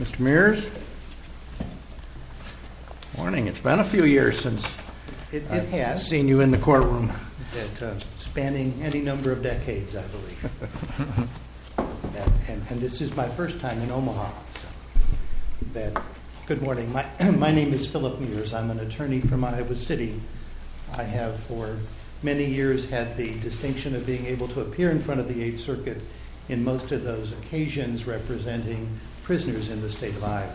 Mr. Mears, good morning. It's been a few years since I've seen you in the courtroom. It has. Spanning any number of decades, I believe, and this is my first time in Omaha. Good morning. My name is Philip Mears. I'm an attorney from Iowa City. I have for many years had the distinction of being able to appear in front of the Eighth Circuit in most of those in the State of Iowa.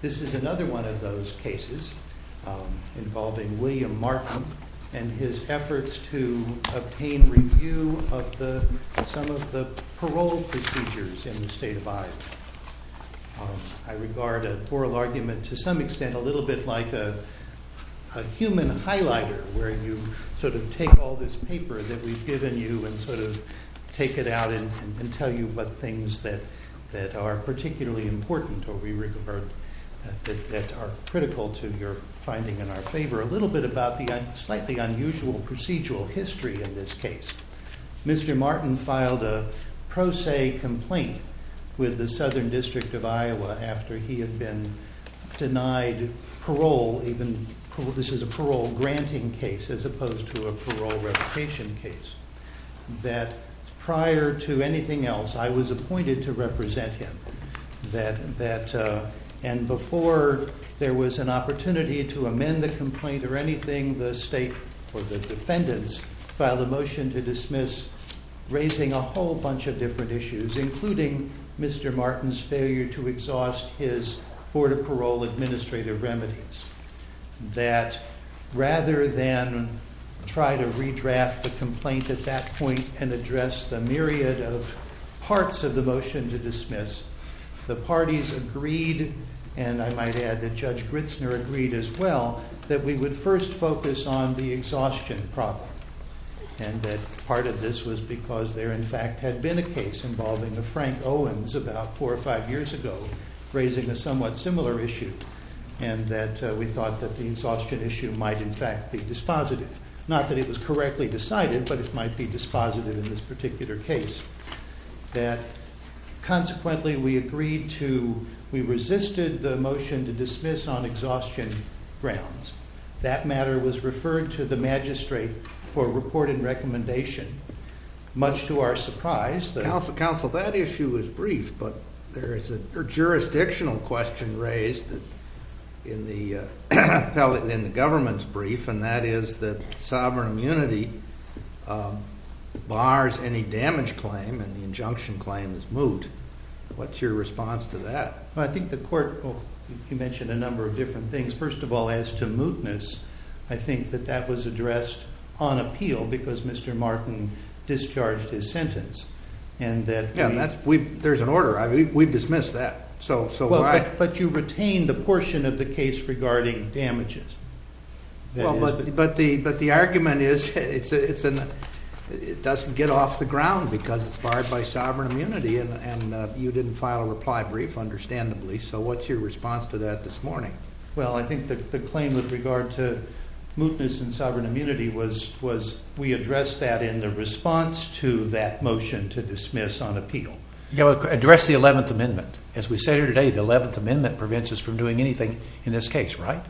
This is another one of those cases involving William Martin and his efforts to obtain review of some of the parole procedures in the State of Iowa. I regard a oral argument to some extent a little bit like a human highlighter, where you sort of take all this paper that we've particularly important or we regard that are critical to your finding in our favor. A little bit about the slightly unusual procedural history in this case. Mr. Martin filed a pro se complaint with the Southern District of Iowa after he had been denied parole, even this is a parole granting case as opposed to a parole replication case, that prior to anything else, I was appointed to represent him. And before there was an opportunity to amend the complaint or anything, the state or the defendants filed a motion to dismiss, raising a whole bunch of different issues, including Mr. Martin's failure to exhaust his Board of Parole administrative remedies. That rather than try to redraft the complaint at that time, the parties agreed, and I might add that Judge Gritzner agreed as well, that we would first focus on the exhaustion problem. And that part of this was because there in fact had been a case involving a Frank Owens about four or five years ago, raising a somewhat similar issue. And that we thought that the exhaustion issue might in fact be dispositive. Not that it was correctly decided, but it might be dispositive in this particular case. That consequently we agreed to, we resisted the motion to dismiss on exhaustion grounds. That matter was referred to the magistrate for report and recommendation, much to our surprise. Counsel, that issue is brief, but there is a jurisdictional question raised in the government's brief, and that is that sovereign immunity bars any damage claim, and the injunction claim is moot. What's your response to that? I think the court, you mentioned a number of different things. First of all, as to mootness, I think that that was addressed on appeal because Mr. Martin discharged his sentence, and that... Yeah, and that's, there's an order, we've dismissed that, so why... The argument is it doesn't get off the ground because it's barred by sovereign immunity, and you didn't file a reply brief, understandably, so what's your response to that this morning? Well, I think the claim with regard to mootness and sovereign immunity was we addressed that in the response to that motion to dismiss on appeal. Yeah, well, address the 11th Amendment. As we say here today, the 11th Amendment prevents us from doing anything in this case, right?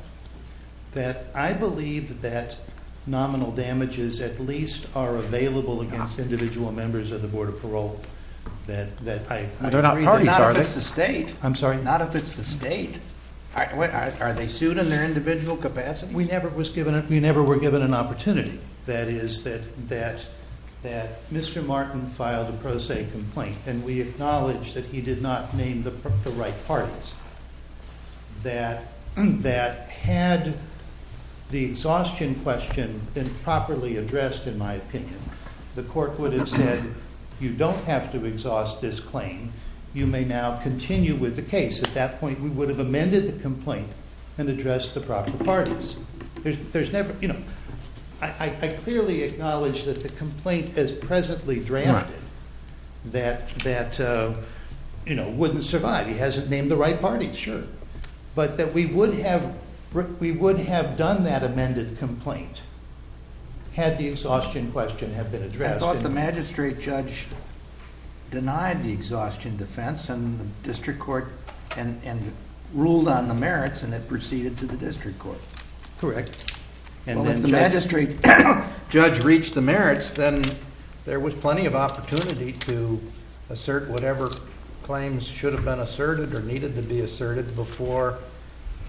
That I believe that nominal damages at least are available against individual members of the Board of Parole, that I... They're not parties, are they? Not if it's the state. I'm sorry? Not if it's the state. Are they sued in their individual capacity? We never were given an opportunity. That is, that Mr. Martin filed a pro se complaint, and we acknowledge that he did not name the right parties. That had the exhaustion question been properly addressed, in my opinion, the court would have said, you don't have to exhaust this claim, you may now continue with the case. At that point, we would have amended the complaint and addressed the proper parties. I clearly acknowledge that the complaint as presently drafted, that wouldn't survive. He hasn't named the right parties. Sure. But that we would have done that amended complaint had the exhaustion question have been addressed. I thought the magistrate judge denied the exhaustion defense in the district court and ruled on the merits and it proceeded to the district court. Correct. Well, if the magistrate judge reached the merits, then there was plenty of opportunity to assert whatever claims should have been asserted or needed to be asserted before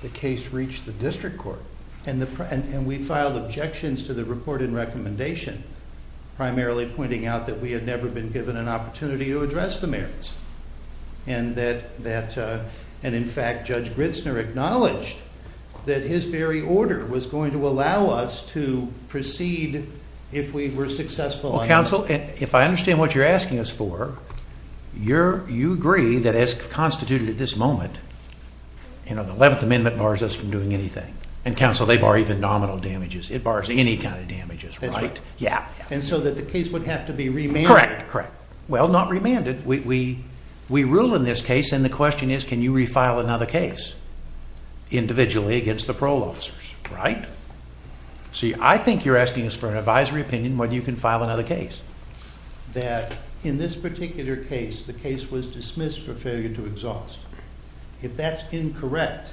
the case reached the district court. And we filed objections to the report and recommendation, primarily pointing out that we had never been given an opportunity to address the merits. And in fact, Judge Gritzner acknowledged that his very order was going to allow us to proceed if we were successful. Well, counsel, if I understand what you're asking us for, you agree that as constituted at this moment, the 11th Amendment bars us from doing anything. And counsel, they bar even nominal damages. It bars any kind of damages, right? Yeah. And so that the case would have to be remanded. Correct. Well, not remanded. We rule in this case and the question is, can you refile another case individually against the parole officers, right? See, I think you're asking us for an advisory opinion whether you can file another case. That in this particular case, the case was dismissed for failure to exhaust. If that's incorrect,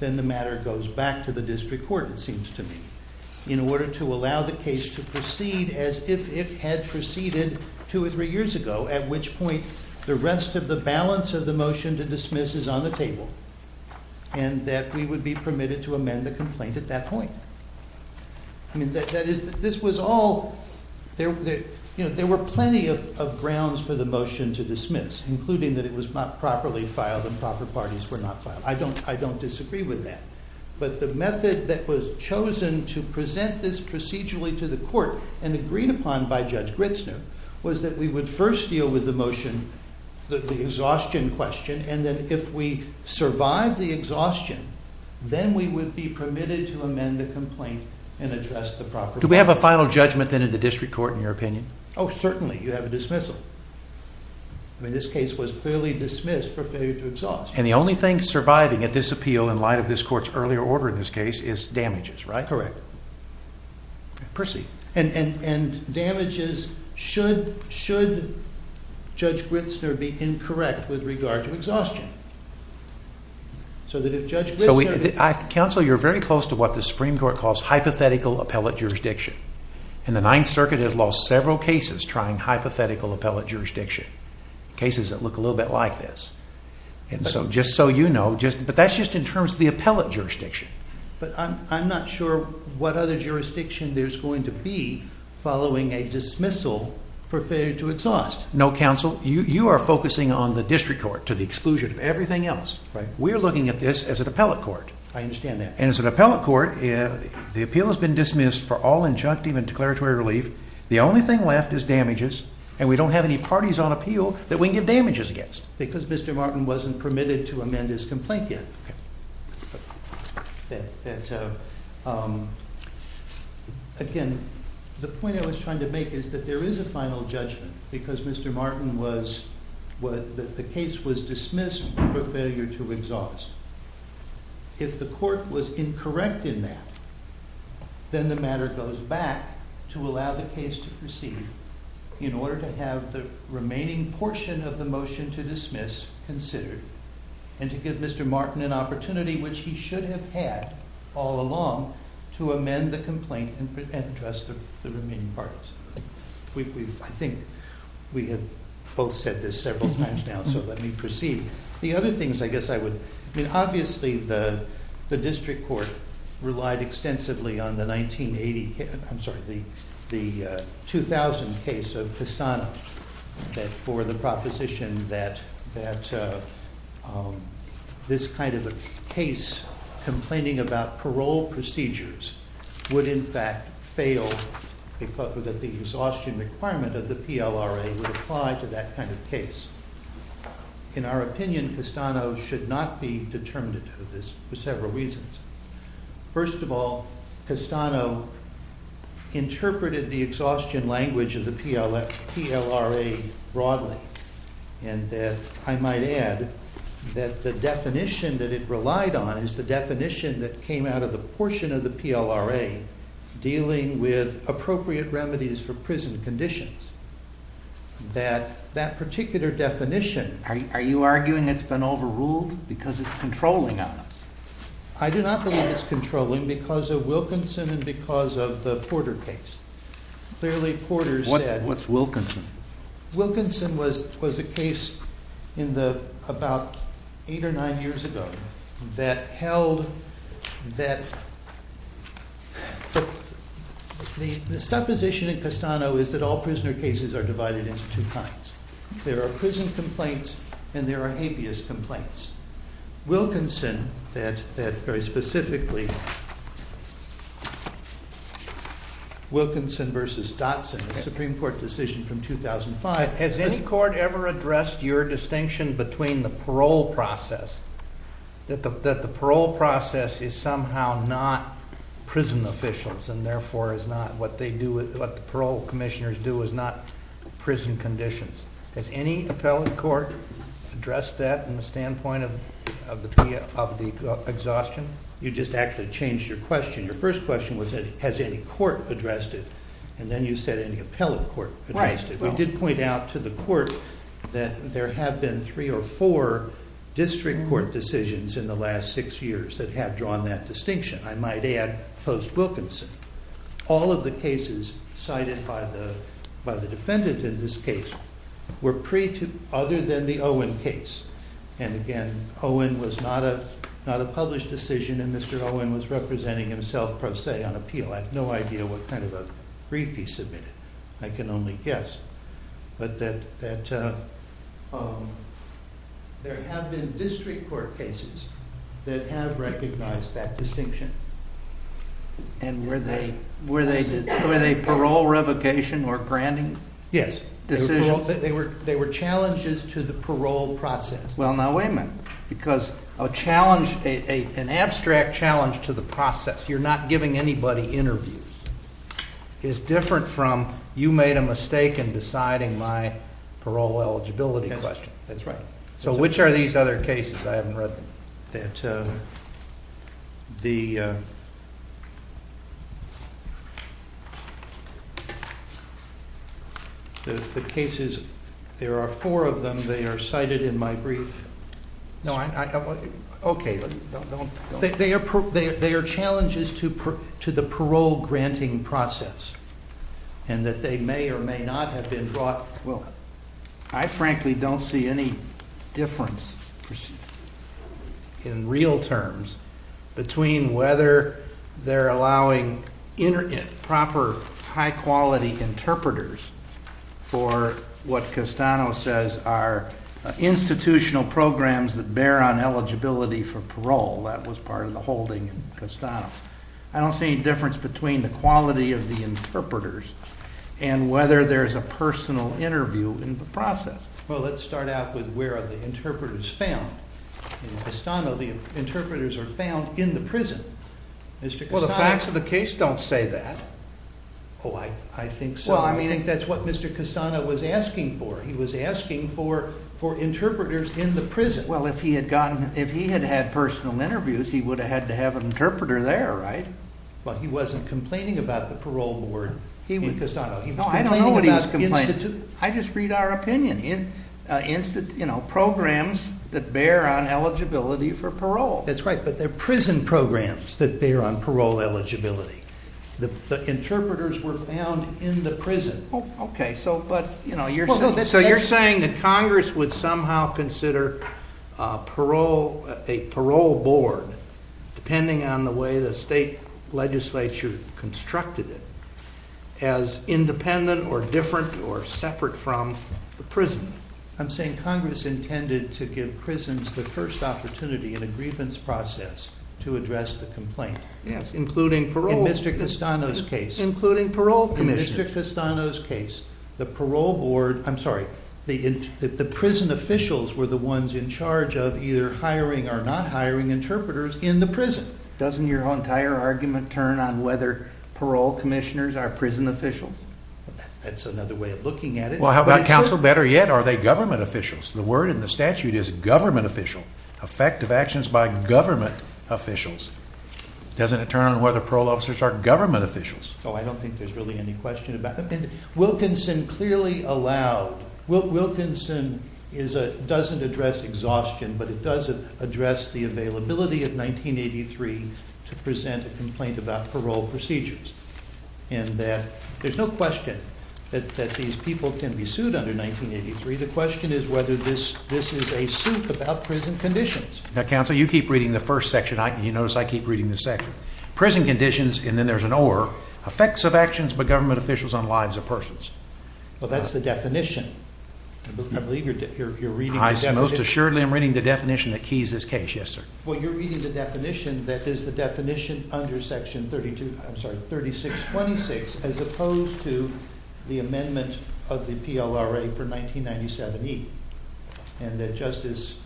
then the matter goes back to the district court, it seems to me, in order to allow the case to proceed as if it had proceeded two or three years ago, at which point the rest of the balance of the motion to dismiss is on the table. And that we would be permitted to amend the complaint at that point. I mean, this was all, there were plenty of grounds for the motion to dismiss, including that it was not properly filed and proper parties were not filed. I don't disagree with that. But the method that was chosen to present this procedurally to the court and agreed upon by Judge Gritzner was that we would first deal with the motion, the exhaustion question, and that if we survive the exhaustion, then we would be permitted to amend the complaint and address the proper- Do we have a final judgment then in the district court in your opinion? Oh, certainly. You have a dismissal. I mean, this case was clearly dismissed for failure to exhaust. And the only thing surviving at this appeal in light of this court's earlier order in this case is damages, right? Correct. Proceed. And damages, should Judge Gritzner be incorrect with regard to exhaustion? Counsel, you're very close to what the Supreme Court calls hypothetical appellate jurisdiction. And the Ninth Circuit has lost several cases trying hypothetical appellate jurisdiction, cases that look a little bit like this. And so just so you know, but that's just in terms of the appellate jurisdiction. But I'm not sure what other jurisdiction there's going to be following a dismissal for failure to exhaust. No, counsel, you are focusing on the district court to the exclusion of everything else. Right. We're looking at this as an appellate court. I understand that. And as an appellate court, the appeal has been dismissed for all injunctive and declaratory relief. The only thing left is damages. And we don't have any parties on appeal that we can give damages against. Because Mr. Martin wasn't permitted to amend his complaint yet. That, again, the point I was trying to make is that there is a final judgment. Because Mr. Martin was, the case was dismissed for failure to exhaust. If the court was incorrect in that, then the matter goes back to allow the case to proceed. In order to have the remaining portion of the motion to dismiss considered. And to give Mr. Martin an opportunity, which he should have had all along, to amend the complaint and trust the remaining parties. I think we have both said this several times now, so let me proceed. The other things I guess I would, I mean, obviously the district court relied extensively on the 1980, I'm sorry, the 2000 case of Castano. That for the proposition that this kind of a case complaining about parole procedures would in fact fail because of the exhaustion requirement of the PLRA would apply to that kind of case. In our opinion, Castano should not be determined to do this for several reasons. First of all, Castano interpreted the exhaustion language of the PLRA broadly. And that I might add that the definition that it relied on is the definition that came out of the portion of the PLRA dealing with appropriate remedies for prison conditions. That that particular definition- Are you arguing it's been overruled because it's controlling on us? I do not believe it's controlling because of Wilkinson and because of the Porter case. Clearly, Porter said- What's Wilkinson? Wilkinson was a case in the, about eight or nine years ago, that held that- The supposition in Castano is that all prisoner cases are divided into two kinds. There are prison complaints and there are habeas complaints. Wilkinson, that very specifically- Wilkinson versus Dotson, a Supreme Court decision from 2005- Has any court ever addressed your distinction between the parole process? That the parole process is somehow not prison officials and therefore is not what they do, what the parole commissioners do is not prison conditions. Has any appellate court addressed that in the standpoint of the exhaustion? You just actually changed your question. Your first question was, has any court addressed it? And then you said any appellate court addressed it. We did point out to the court that there have been three or four district court decisions in the last six years that have drawn that distinction. I might add post-Wilkinson, all of the cases cited by the defendant in this case were pre to, other than the Owen case. And again, Owen was not a published decision and Mr. Owen was representing himself pro se on appeal. I have no idea what kind of a brief he submitted. I can only guess. But that there have been district court cases that have recognized that distinction. And were they parole revocation or granting decisions? Yes, they were challenges to the parole process. Well now wait a minute, because an abstract challenge to the process, you're not giving anybody interviews, is different from you made a mistake in deciding my parole eligibility question. That's right. So which are these other cases I haven't read? The cases, there are four of them. They are cited in my brief. No, okay. They are challenges to the parole granting process. And that they may or may not have been brought. Well, I frankly don't see any difference in real terms between whether they're allowing proper high quality interpreters for what Castano says are institutional programs that bear on eligibility for parole. That was part of the holding in Castano. I don't see any difference between the quality of the interpreters and whether there's a personal interview in the process. Well, let's start out with where are the interpreters found. In Castano, the interpreters are found in the prison. Well, the facts of the case don't say that. Oh, I think so. I mean, that's what Mr. Castano was asking for. He was asking for interpreters in the prison. Well, if he had gotten, if he had had personal interviews, he would have had to have an interpreter there, right? But he wasn't complaining about the parole board in Castano. No, I don't know what he was complaining about. I just read our opinion. Programs that bear on eligibility for parole. That's right. But they're prison programs that bear on parole eligibility. The interpreters were found in the prison. Okay. So, but, you know, you're saying that Congress would somehow consider a parole board, depending on the way the state legislature constructed it, as independent or different or separate from the prison. I'm saying Congress intended to give prisons the first opportunity in a grievance process to address the complaint. Yes, including parole. In Mr. Castano's case. Including parole commissioners. In Mr. Castano's case, the parole board, I'm sorry, the prison officials were the ones in charge of either hiring or not hiring interpreters in the prison. Doesn't your entire argument turn on whether parole commissioners are prison officials? That's another way of looking at it. Counsel, better yet, are they government officials? The word in the statute is government official. Effective actions by government officials. Doesn't it turn on whether parole officers are government officials? So I don't think there's really any question about that. Wilkinson clearly allowed, Wilkinson doesn't address exhaustion, but it does address the availability of 1983 to present a complaint about parole procedures. And there's no question that these people can be sued under 1983. The question is whether this is a suit about prison conditions. Now, counsel, you keep reading the first section. You notice I keep reading the second. Prison conditions, and then there's an or, effects of actions by government officials on lives of persons. Well, that's the definition. I believe you're reading the definition. I most assuredly am reading the definition that keys this case. Yes, sir. Well, you're reading the definition that is the definition under section 32, I'm sorry, 3626, as opposed to the amendment of the PLRA for 1997E. And that Justice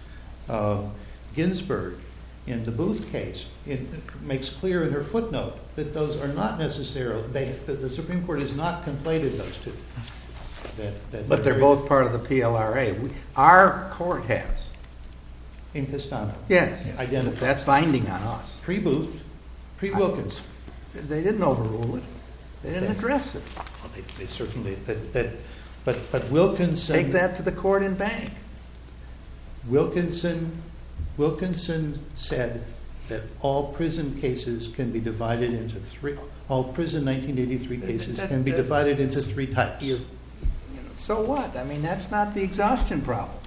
Ginsburg, in the Booth case, makes clear in her footnote that those are not necessarily, the Supreme Court has not completed those two. But they're both part of the PLRA. Our court has. In Pistano? Yes. That's binding on us. Pre-Booth, pre-Wilkins. They didn't overrule it. They didn't address it. They certainly, but Wilkins said- Take that to the court and bank. Wilkinson said that all prison cases can be divided into three, all prison 1983 cases can be divided into three types. So what? I mean, that's not the exhaustion problem.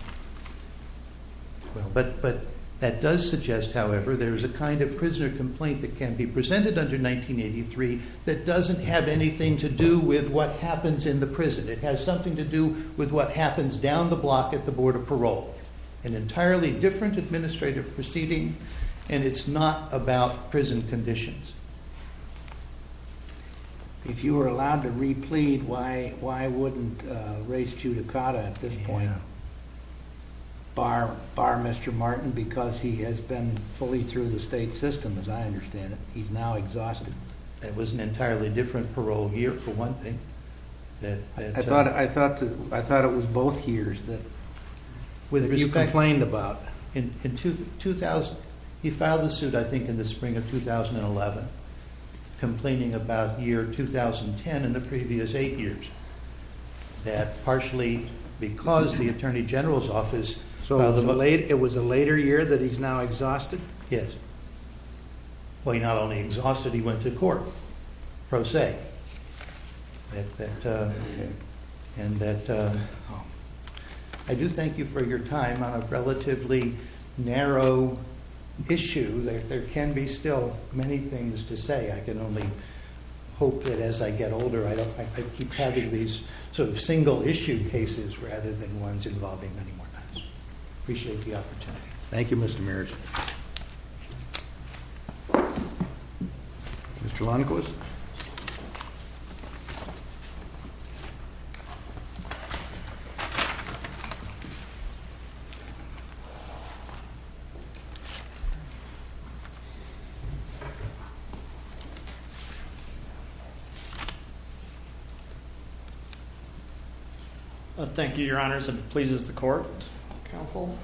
Well, but that does suggest, however, there is a kind of prisoner complaint that can be presented under 1983 that doesn't have anything to do with what happens in the prison. It has something to do with what happens down the block at the Board of Parole, an entirely different administrative proceeding, and it's not about prison conditions. If you were allowed to replete, why wouldn't race Judicata at this point? Bar Mr. Martin, because he has been fully through the state system, as I understand it. He's now exhausted. It was an entirely different parole year, for one thing. I thought it was both years that you complained about. He filed the suit, I think, in the spring of 2011, complaining about year 2010 and the previous eight years, that partially because the Attorney General's office filed the motion. It was a later year that he's now exhausted? Yes. Well, he not only exhausted, he went to court, pro se. I do thank you for your time on a relatively narrow issue. There can be still many things to say. I can only hope that as I get older, I keep having these sort of single issue cases, rather than ones involving many more times. Appreciate the opportunity. Thank you, Mr. Merritt. Mr. Lundquist. Thank you, Your Honors. It pleases the court, counsel.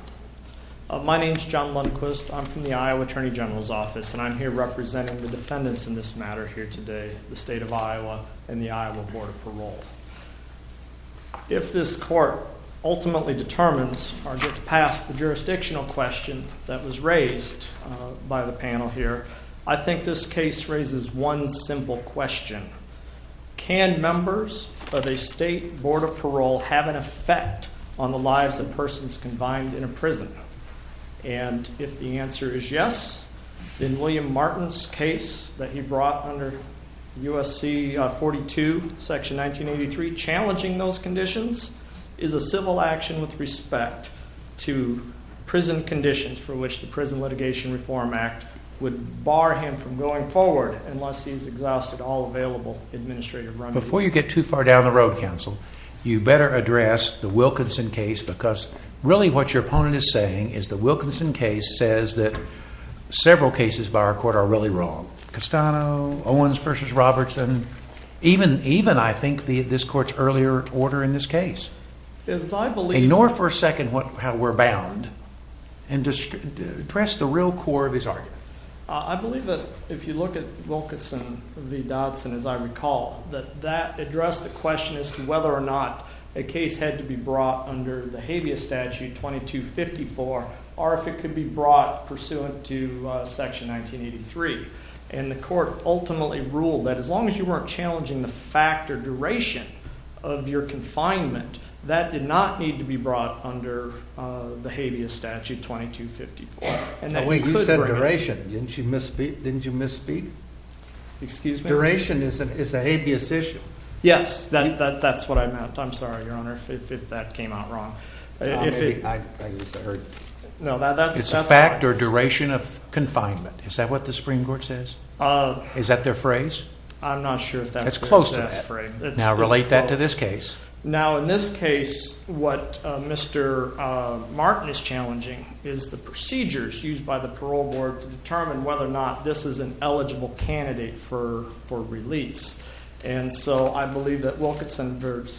My name is John Lundquist. I'm from the Iowa Attorney General's office, and I'm here representing the defendants in this matter here today, the state of Iowa and the Iowa Board of Parole. If this court ultimately determines or gets past the jurisdictional question that was raised by the panel here, I think this case raises one simple question. Can members of a state board of parole have an effect on the lives of persons combined in a prison? And if the answer is yes, then William Martin's case that he brought under USC 42, section 1983, challenging those conditions is a civil action with respect to prison conditions for which the Prison Litigation Reform Act would bar him from going forward unless he's exhausted all available administrative remedies. Before you get too far down the road, counsel, you better address the Wilkinson case because really what your opponent is saying is the Wilkinson case says that several cases by our court are really wrong. Castano, Owens v. Robertson, even I think this court's earlier order in this case. Ignore for a second how we're bound and just address the real core of his argument. I believe that if you look at Wilkinson v. Dodson, as I recall, that that addressed the question as to whether or not a case had to be brought under the habeas statute 2254 or if it could be brought pursuant to section 1983. And the court ultimately ruled that as long as you weren't challenging the fact or duration of your confinement, that did not need to be brought under the habeas statute 2254. Wait, you said duration. Didn't you misspeak? Excuse me? Duration is a habeas issue. Yes, that's what I meant. I'm sorry, Your Honor, if that came out wrong. It's a fact or duration of confinement. Is that what the Supreme Court says? Is that their phrase? I'm not sure if that's their phrase. It's close to that. Now relate that to this case. Now in this case, what Mr. Martin is challenging is the procedures used by the parole board to determine whether or not this is an eligible candidate for release. And so I believe that Wilkinson v.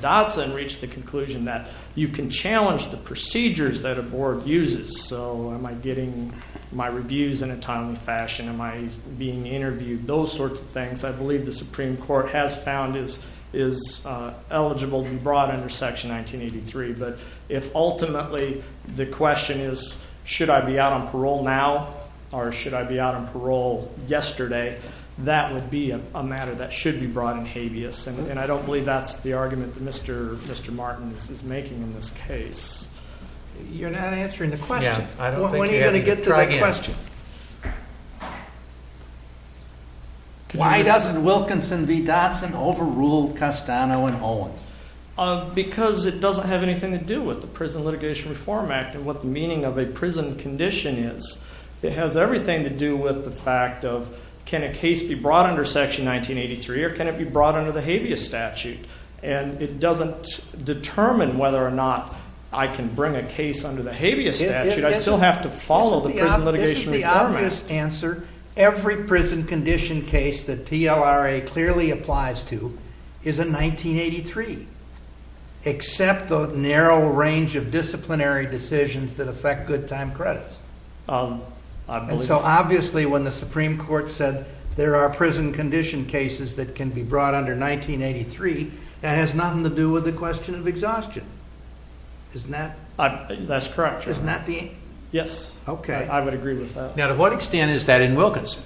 Dodson reached the conclusion that you can challenge the procedures that a board uses. So am I getting my reviews in a timely fashion? Am I being interviewed? Those sorts of questions are eligible to be brought under Section 1983. But if ultimately the question is, should I be out on parole now? Or should I be out on parole yesterday? That would be a matter that should be brought in habeas. And I don't believe that's the argument that Mr. Martin is making in this case. You're not answering the question. When are you going to get to the question? Why doesn't Wilkinson v. Dodson overrule Castano and Owens? Because it doesn't have anything to do with the Prison Litigation Reform Act and what the meaning of a prison condition is. It has everything to do with the fact of can a case be brought under Section 1983 or can it be brought under the habeas statute? And it doesn't determine whether or not I can bring a case under the habeas statute. I still have to follow the prison condition. The obvious answer, every prison condition case that TLRA clearly applies to is in 1983, except the narrow range of disciplinary decisions that affect good time credits. So obviously when the Supreme Court said there are prison condition cases that can be brought under 1983, that has nothing to do with the question of exhaustion. Isn't that? That's correct. Yes, I would agree with that. Now to what extent is that in Wilkinson?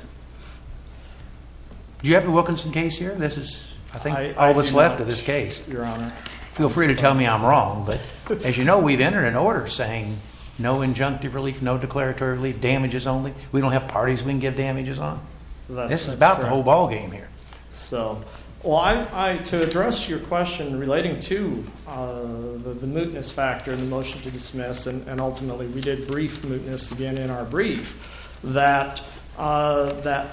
Do you have a Wilkinson case here? I think all that's left of this case. Feel free to tell me I'm wrong, but as you know we've entered an order saying no injunctive relief, no declaratory relief, damages only. We don't have parties we can give damages on. This is about the whole ballgame here. So to address your question relating to the mootness factor in the motion to dismiss, and ultimately we did brief mootness again in our brief, that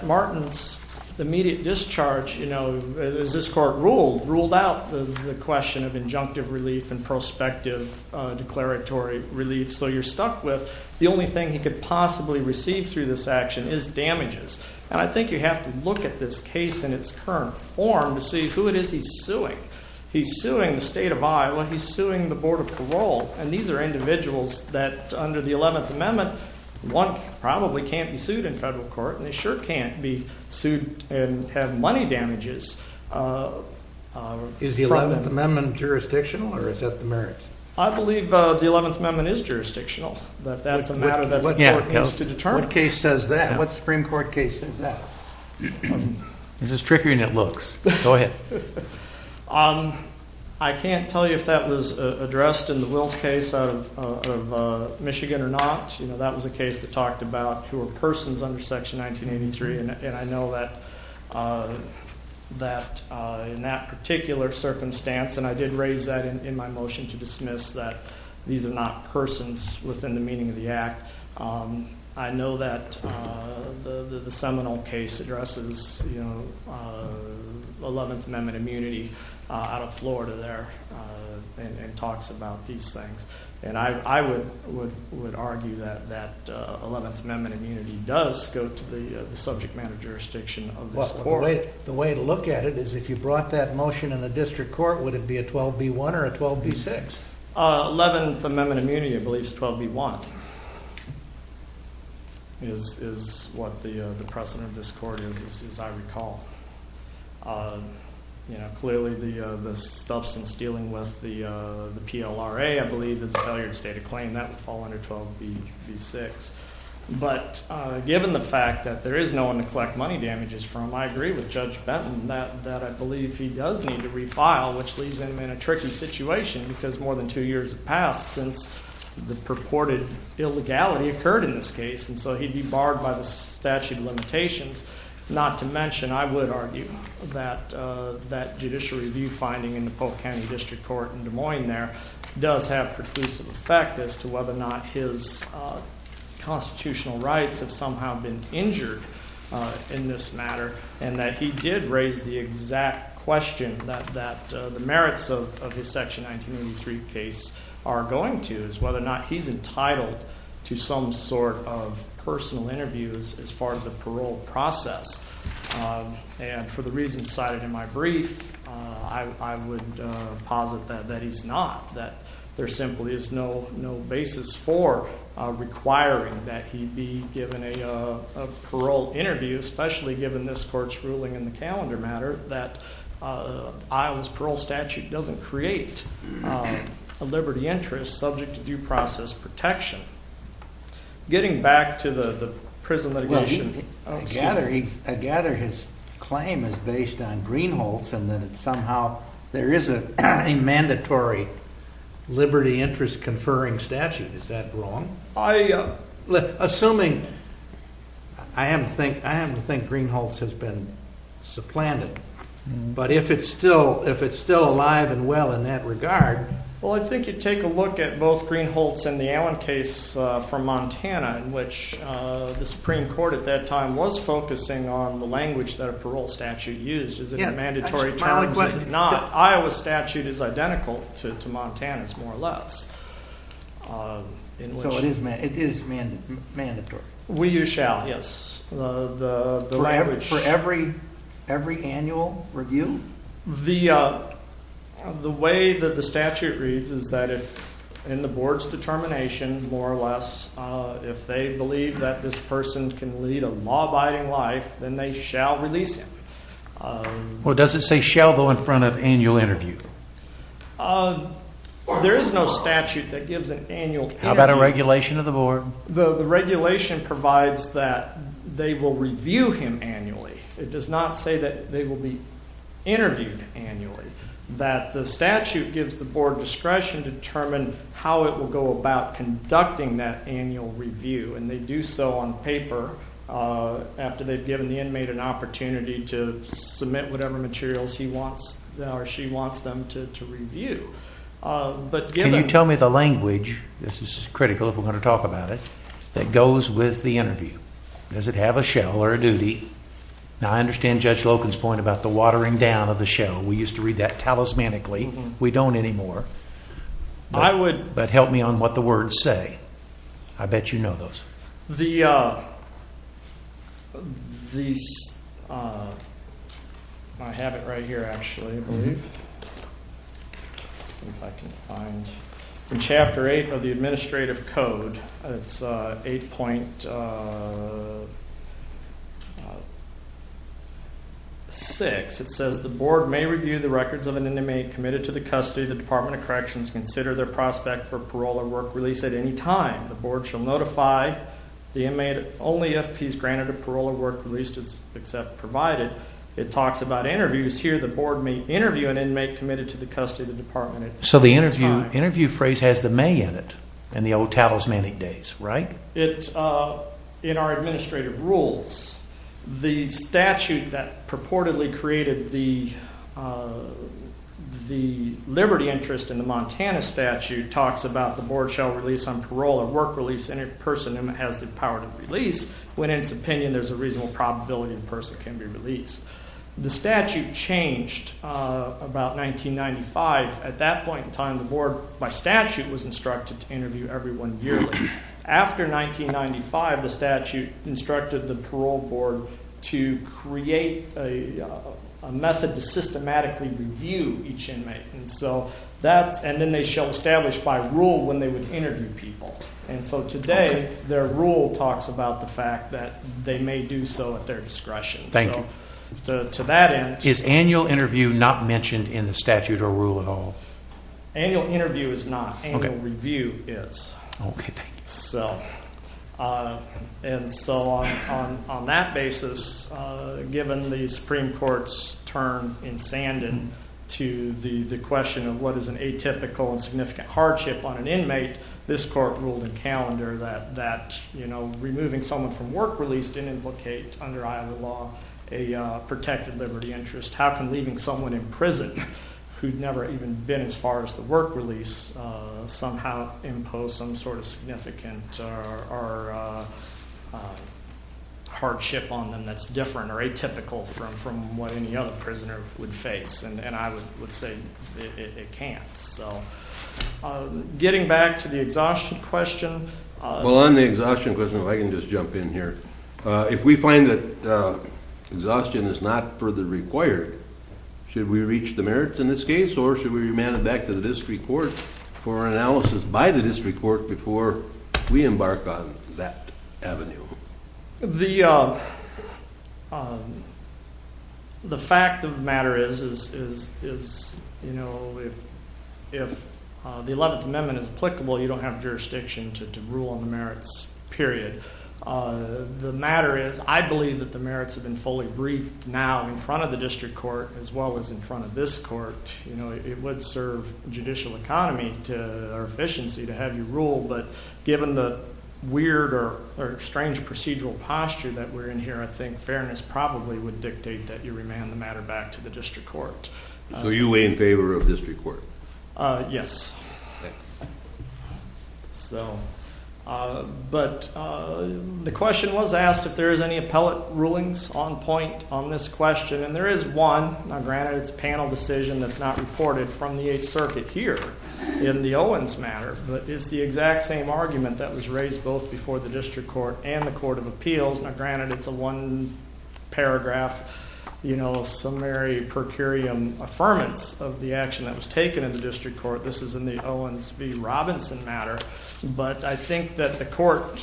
Martin's immediate discharge, as this court ruled, ruled out the question of injunctive relief and prospective declaratory relief. So you're stuck with the only thing he could possibly receive through this action is damages. And I think you have to look at this case in its current form to see who it is he's suing. He's suing the state of Iowa, he's suing the Board of Parole, and these are individuals that under the 11th Amendment, one probably can't be sued in federal court, and they sure can't be sued and have money damages. Is the 11th Amendment jurisdictional or is that the merits? I believe the 11th Amendment is jurisdictional, but that's a matter that the court needs to address. What Supreme Court case is that? This is trickier than it looks. Go ahead. I can't tell you if that was addressed in the Wills case out of Michigan or not. That was a case that talked about who were persons under Section 1983, and I know that in that particular circumstance, and I did raise that in my motion to dismiss that these are not persons within the meaning of the act. I know that the Seminole case addresses 11th Amendment immunity out of Florida there and talks about these things. And I would argue that that 11th Amendment immunity does go to the subject matter jurisdiction of this court. The way to look at it is if you brought that motion in the district court, would it be a 12B1 or a 12B6? 11th Amendment immunity, I believe, is 12B1 is what the precedent of this court is, as I recall. Clearly, the substance dealing with the PLRA, I believe, is a failure to state a claim that would fall under 12B6. But given the fact that there is no one to collect money damages from, I agree with Judge Benton that I believe he does need to refile, which leaves him in a tricky situation because more than two years have passed since the purported illegality occurred in this case, and so he'd be barred by the statute of limitations. Not to mention, I would argue that that judicial review finding in the Polk County District Court in Des Moines there does have preclusive effect as to whether or not his constitutional rights have somehow been injured in this matter, and that he did raise the exact question that the merits of his Section 1983 case are going to, is whether or not he's entitled to some sort of personal interviews as far as the parole process. And for the reasons cited in my brief, I would posit that he's not, that there simply is no basis for requiring that he be given a parole interview, especially given this court's ruling in the calendar matter that Iowa's parole statute doesn't create a liberty interest subject to due process protection. Getting back to the prison litigation. I gather his claim is based on Greenholz, and that somehow there is a mandatory liberty interest conferring statute. Is that wrong? Assuming, I happen to think Greenholz has been supplanted, but if it's still alive and well in that regard... Well, I think you take a look at both Greenholz and the Allen case from Montana, in which the Supreme Court at that time was focusing on the language that a parole statute used. Is it a mandatory term? Is it not? Iowa's statute is identical to Montana's, more or less. So it is mandatory? We use shall, yes. For every annual review? The way that the statute reads is that if, in the board's determination, more or less, if they believe that this person can lead a law-abiding life, then they shall release him. Well, does it say shall though in front of annual interview? There is no statute that gives an annual interview. How about a regulation of the board? The regulation provides that they will review him annually. It does not say that they will be interviewed annually. That the statute gives the board discretion to determine how it will go about conducting that annual review, and they do so on paper, after they've given the inmate an opportunity to submit whatever materials he wants, or she wants them to review. Can you tell me the language, this is critical if we're going to talk about it, that goes with the interview? Does it have a shall or a duty? Now I understand Judge Loken's point about the watering down of the shall. We used to read that talismanically. We don't anymore. But help me on what the words say. I bet you know those. I have it right here actually, I believe. In chapter 8 of the administrative code, it's 8.6. It says the board may review the records of an inmate committed to the custody. The Department of Corrections consider their prospect for parole or work release at any time. The board shall notify the inmate only if he's granted a parole or work release except provided. It talks about interviews here, the board may interview an inmate committed to the custody of the department at any time. So the interview phrase has the may in it, in the old talismanic days, right? In our administrative rules, the statute that purportedly created the liberty interest in the Montana statute talks about the board shall release on parole or work release any person who has the power to release when in its opinion there's a reasonable probability the person can be released. The statute changed about 1995. At that point in time, the board by statute was instructed to interview everyone yearly. After 1995, the statute instructed the parole board to create a method to systematically review each inmate. And then they shall establish by rule when they would interview people. And so today, their rule talks about the fact that they may do so at their discretion. Is annual interview not mentioned in the statute or rule at all? Annual interview is not. Annual review is. Okay, thank you. And so on that basis, given the Supreme Court's turn in Sandon to the question of what is an atypical and significant hardship on an inmate, this court ruled in calendar that removing someone from work release didn't implicate under Iowa law a protected liberty interest. How can leaving someone in prison, who'd never even been as far as the work release, somehow impose some sort of significant or hardship on them that's different or atypical from what any other prisoner would face? And I would say it can't. Getting back to the exhaustion question. Well on the exhaustion question, if I can just jump in here. If we find that exhaustion is not further required, should we reach the merits in this case? Or should we remand it back to the district court for analysis by the district court before we embark on that avenue? The fact of the matter is, if the 11th Amendment is applicable, you don't have jurisdiction to rule on the merits, period. The matter is, I believe that the merits have been fully briefed now in front of the district court as well as in front of this court. It would serve judicial economy or efficiency to have you rule. But given the weird or strange procedural posture that we're in here, I think fairness probably would dictate that you remand the matter back to the district court. So you weigh in favor of district court? Yes. But the question was asked if there is any appellate rulings on point on this question. And there is one. Now granted, it's a panel decision that's not reported from the 8th Circuit here in the Owens matter. But it's the exact same argument that was raised both before the district court and the court of appeals. Now granted, it's a one paragraph summary per curiam affirmance of the action that was taken in the district court. This is in the Owens v Robinson matter. But I think that the court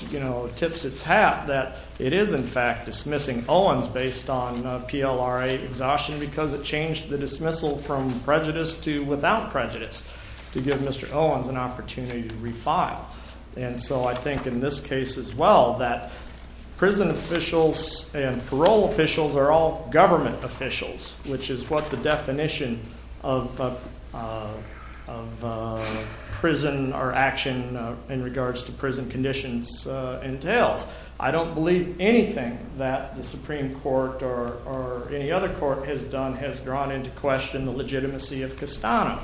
tips its hat that it is in fact dismissing Owens based on PLRA exhaustion. Because it changed the dismissal from prejudice to without prejudice to give Mr. Owens an opportunity to refile. And so I think in this case as well that prison officials and parole officials are all government officials. Which is what the definition of prison or action in regards to prison conditions entails. I don't believe anything that the Supreme Court or any other court has done has drawn into question the legitimacy of Castano.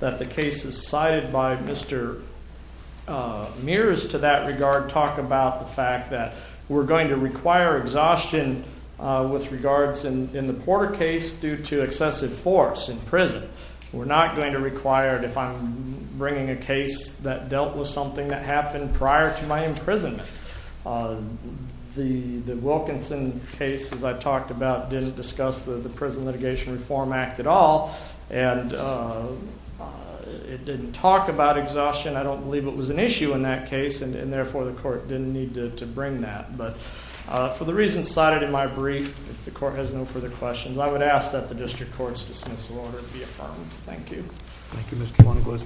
That the cases cited by Mr. Mears to that regard talk about the fact that we're going to require exhaustion. With regards in the Porter case due to excessive force in prison. We're not going to require it if I'm bringing a case that dealt with something that happened prior to my imprisonment. The Wilkinson case as I talked about didn't discuss the Prison Litigation Reform Act at all. And it didn't talk about exhaustion. I don't believe it was an issue in that case. And therefore the court didn't need to bring that. But for the reasons cited in my brief, if the court has no further questions, I would ask that the district courts dismiss the order to be affirmed. Thank you. Thank you, Mr. Wonoglos.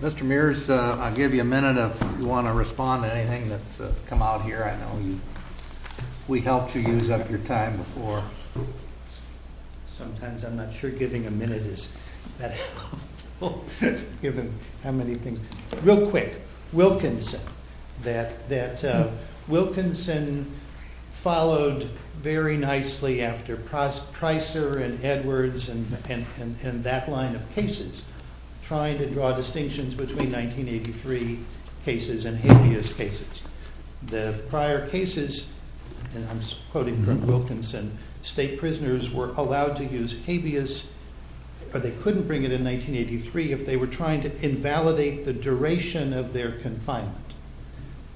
Mr. Mears, I'll give you a minute if you want to respond to anything that's come out here. I know we helped you use up your time before. Sometimes I'm not sure giving a minute is that helpful, given how many things. Real quick, Wilkinson. Wilkinson followed very nicely after Pricer and Edwards and that line of cases. Trying to draw distinctions between 1983 cases and habeas cases. The prior cases, and I'm quoting from Wilkinson, state prisoners were allowed to use habeas, or they couldn't bring it in 1983, if they were trying to invalidate the duration of their confinement.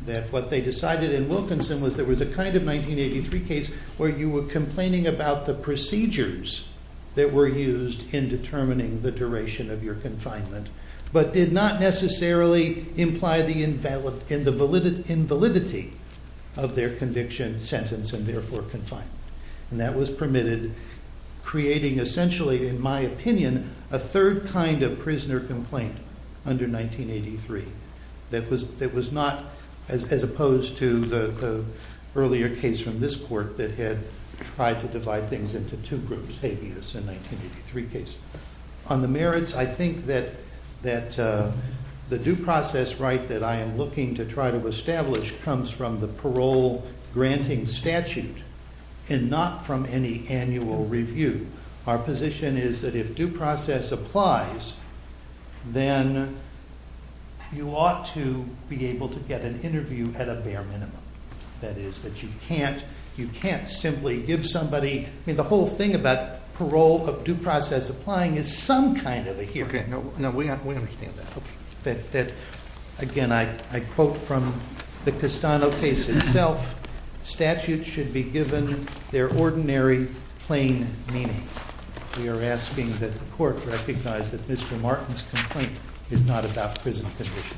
That what they decided in Wilkinson was there was a kind of 1983 case where you were complaining about the procedures that were used in determining the duration of your confinement, but did not necessarily imply the invalidity of their conviction, sentence, and therefore confinement. That was permitted, creating essentially, in my opinion, a third kind of prisoner complaint under 1983. That was not, as opposed to the earlier case from this court that had tried to divide things into two groups, habeas and 1983 case. On the merits, I think that the due process right that I am looking to try to establish comes from the parole granting statute and not from any annual review. Our position is that if due process applies, then you ought to be able to get an interview at a bare minimum. That is, that you can't simply give somebody... The whole thing about parole of due process applying is some kind of a here and now. We understand that. Again, I quote from the Castano case itself. Statutes should be given their ordinary, plain meaning. We are asking that the court recognize that Mr. Martin's complaint is not about prison conditions.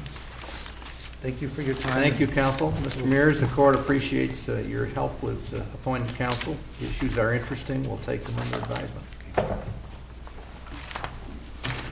Thank you for your time. Thank you, counsel. Mr. Meares, the court appreciates your help with appointing counsel. Issues are interesting. We'll take them under advisement.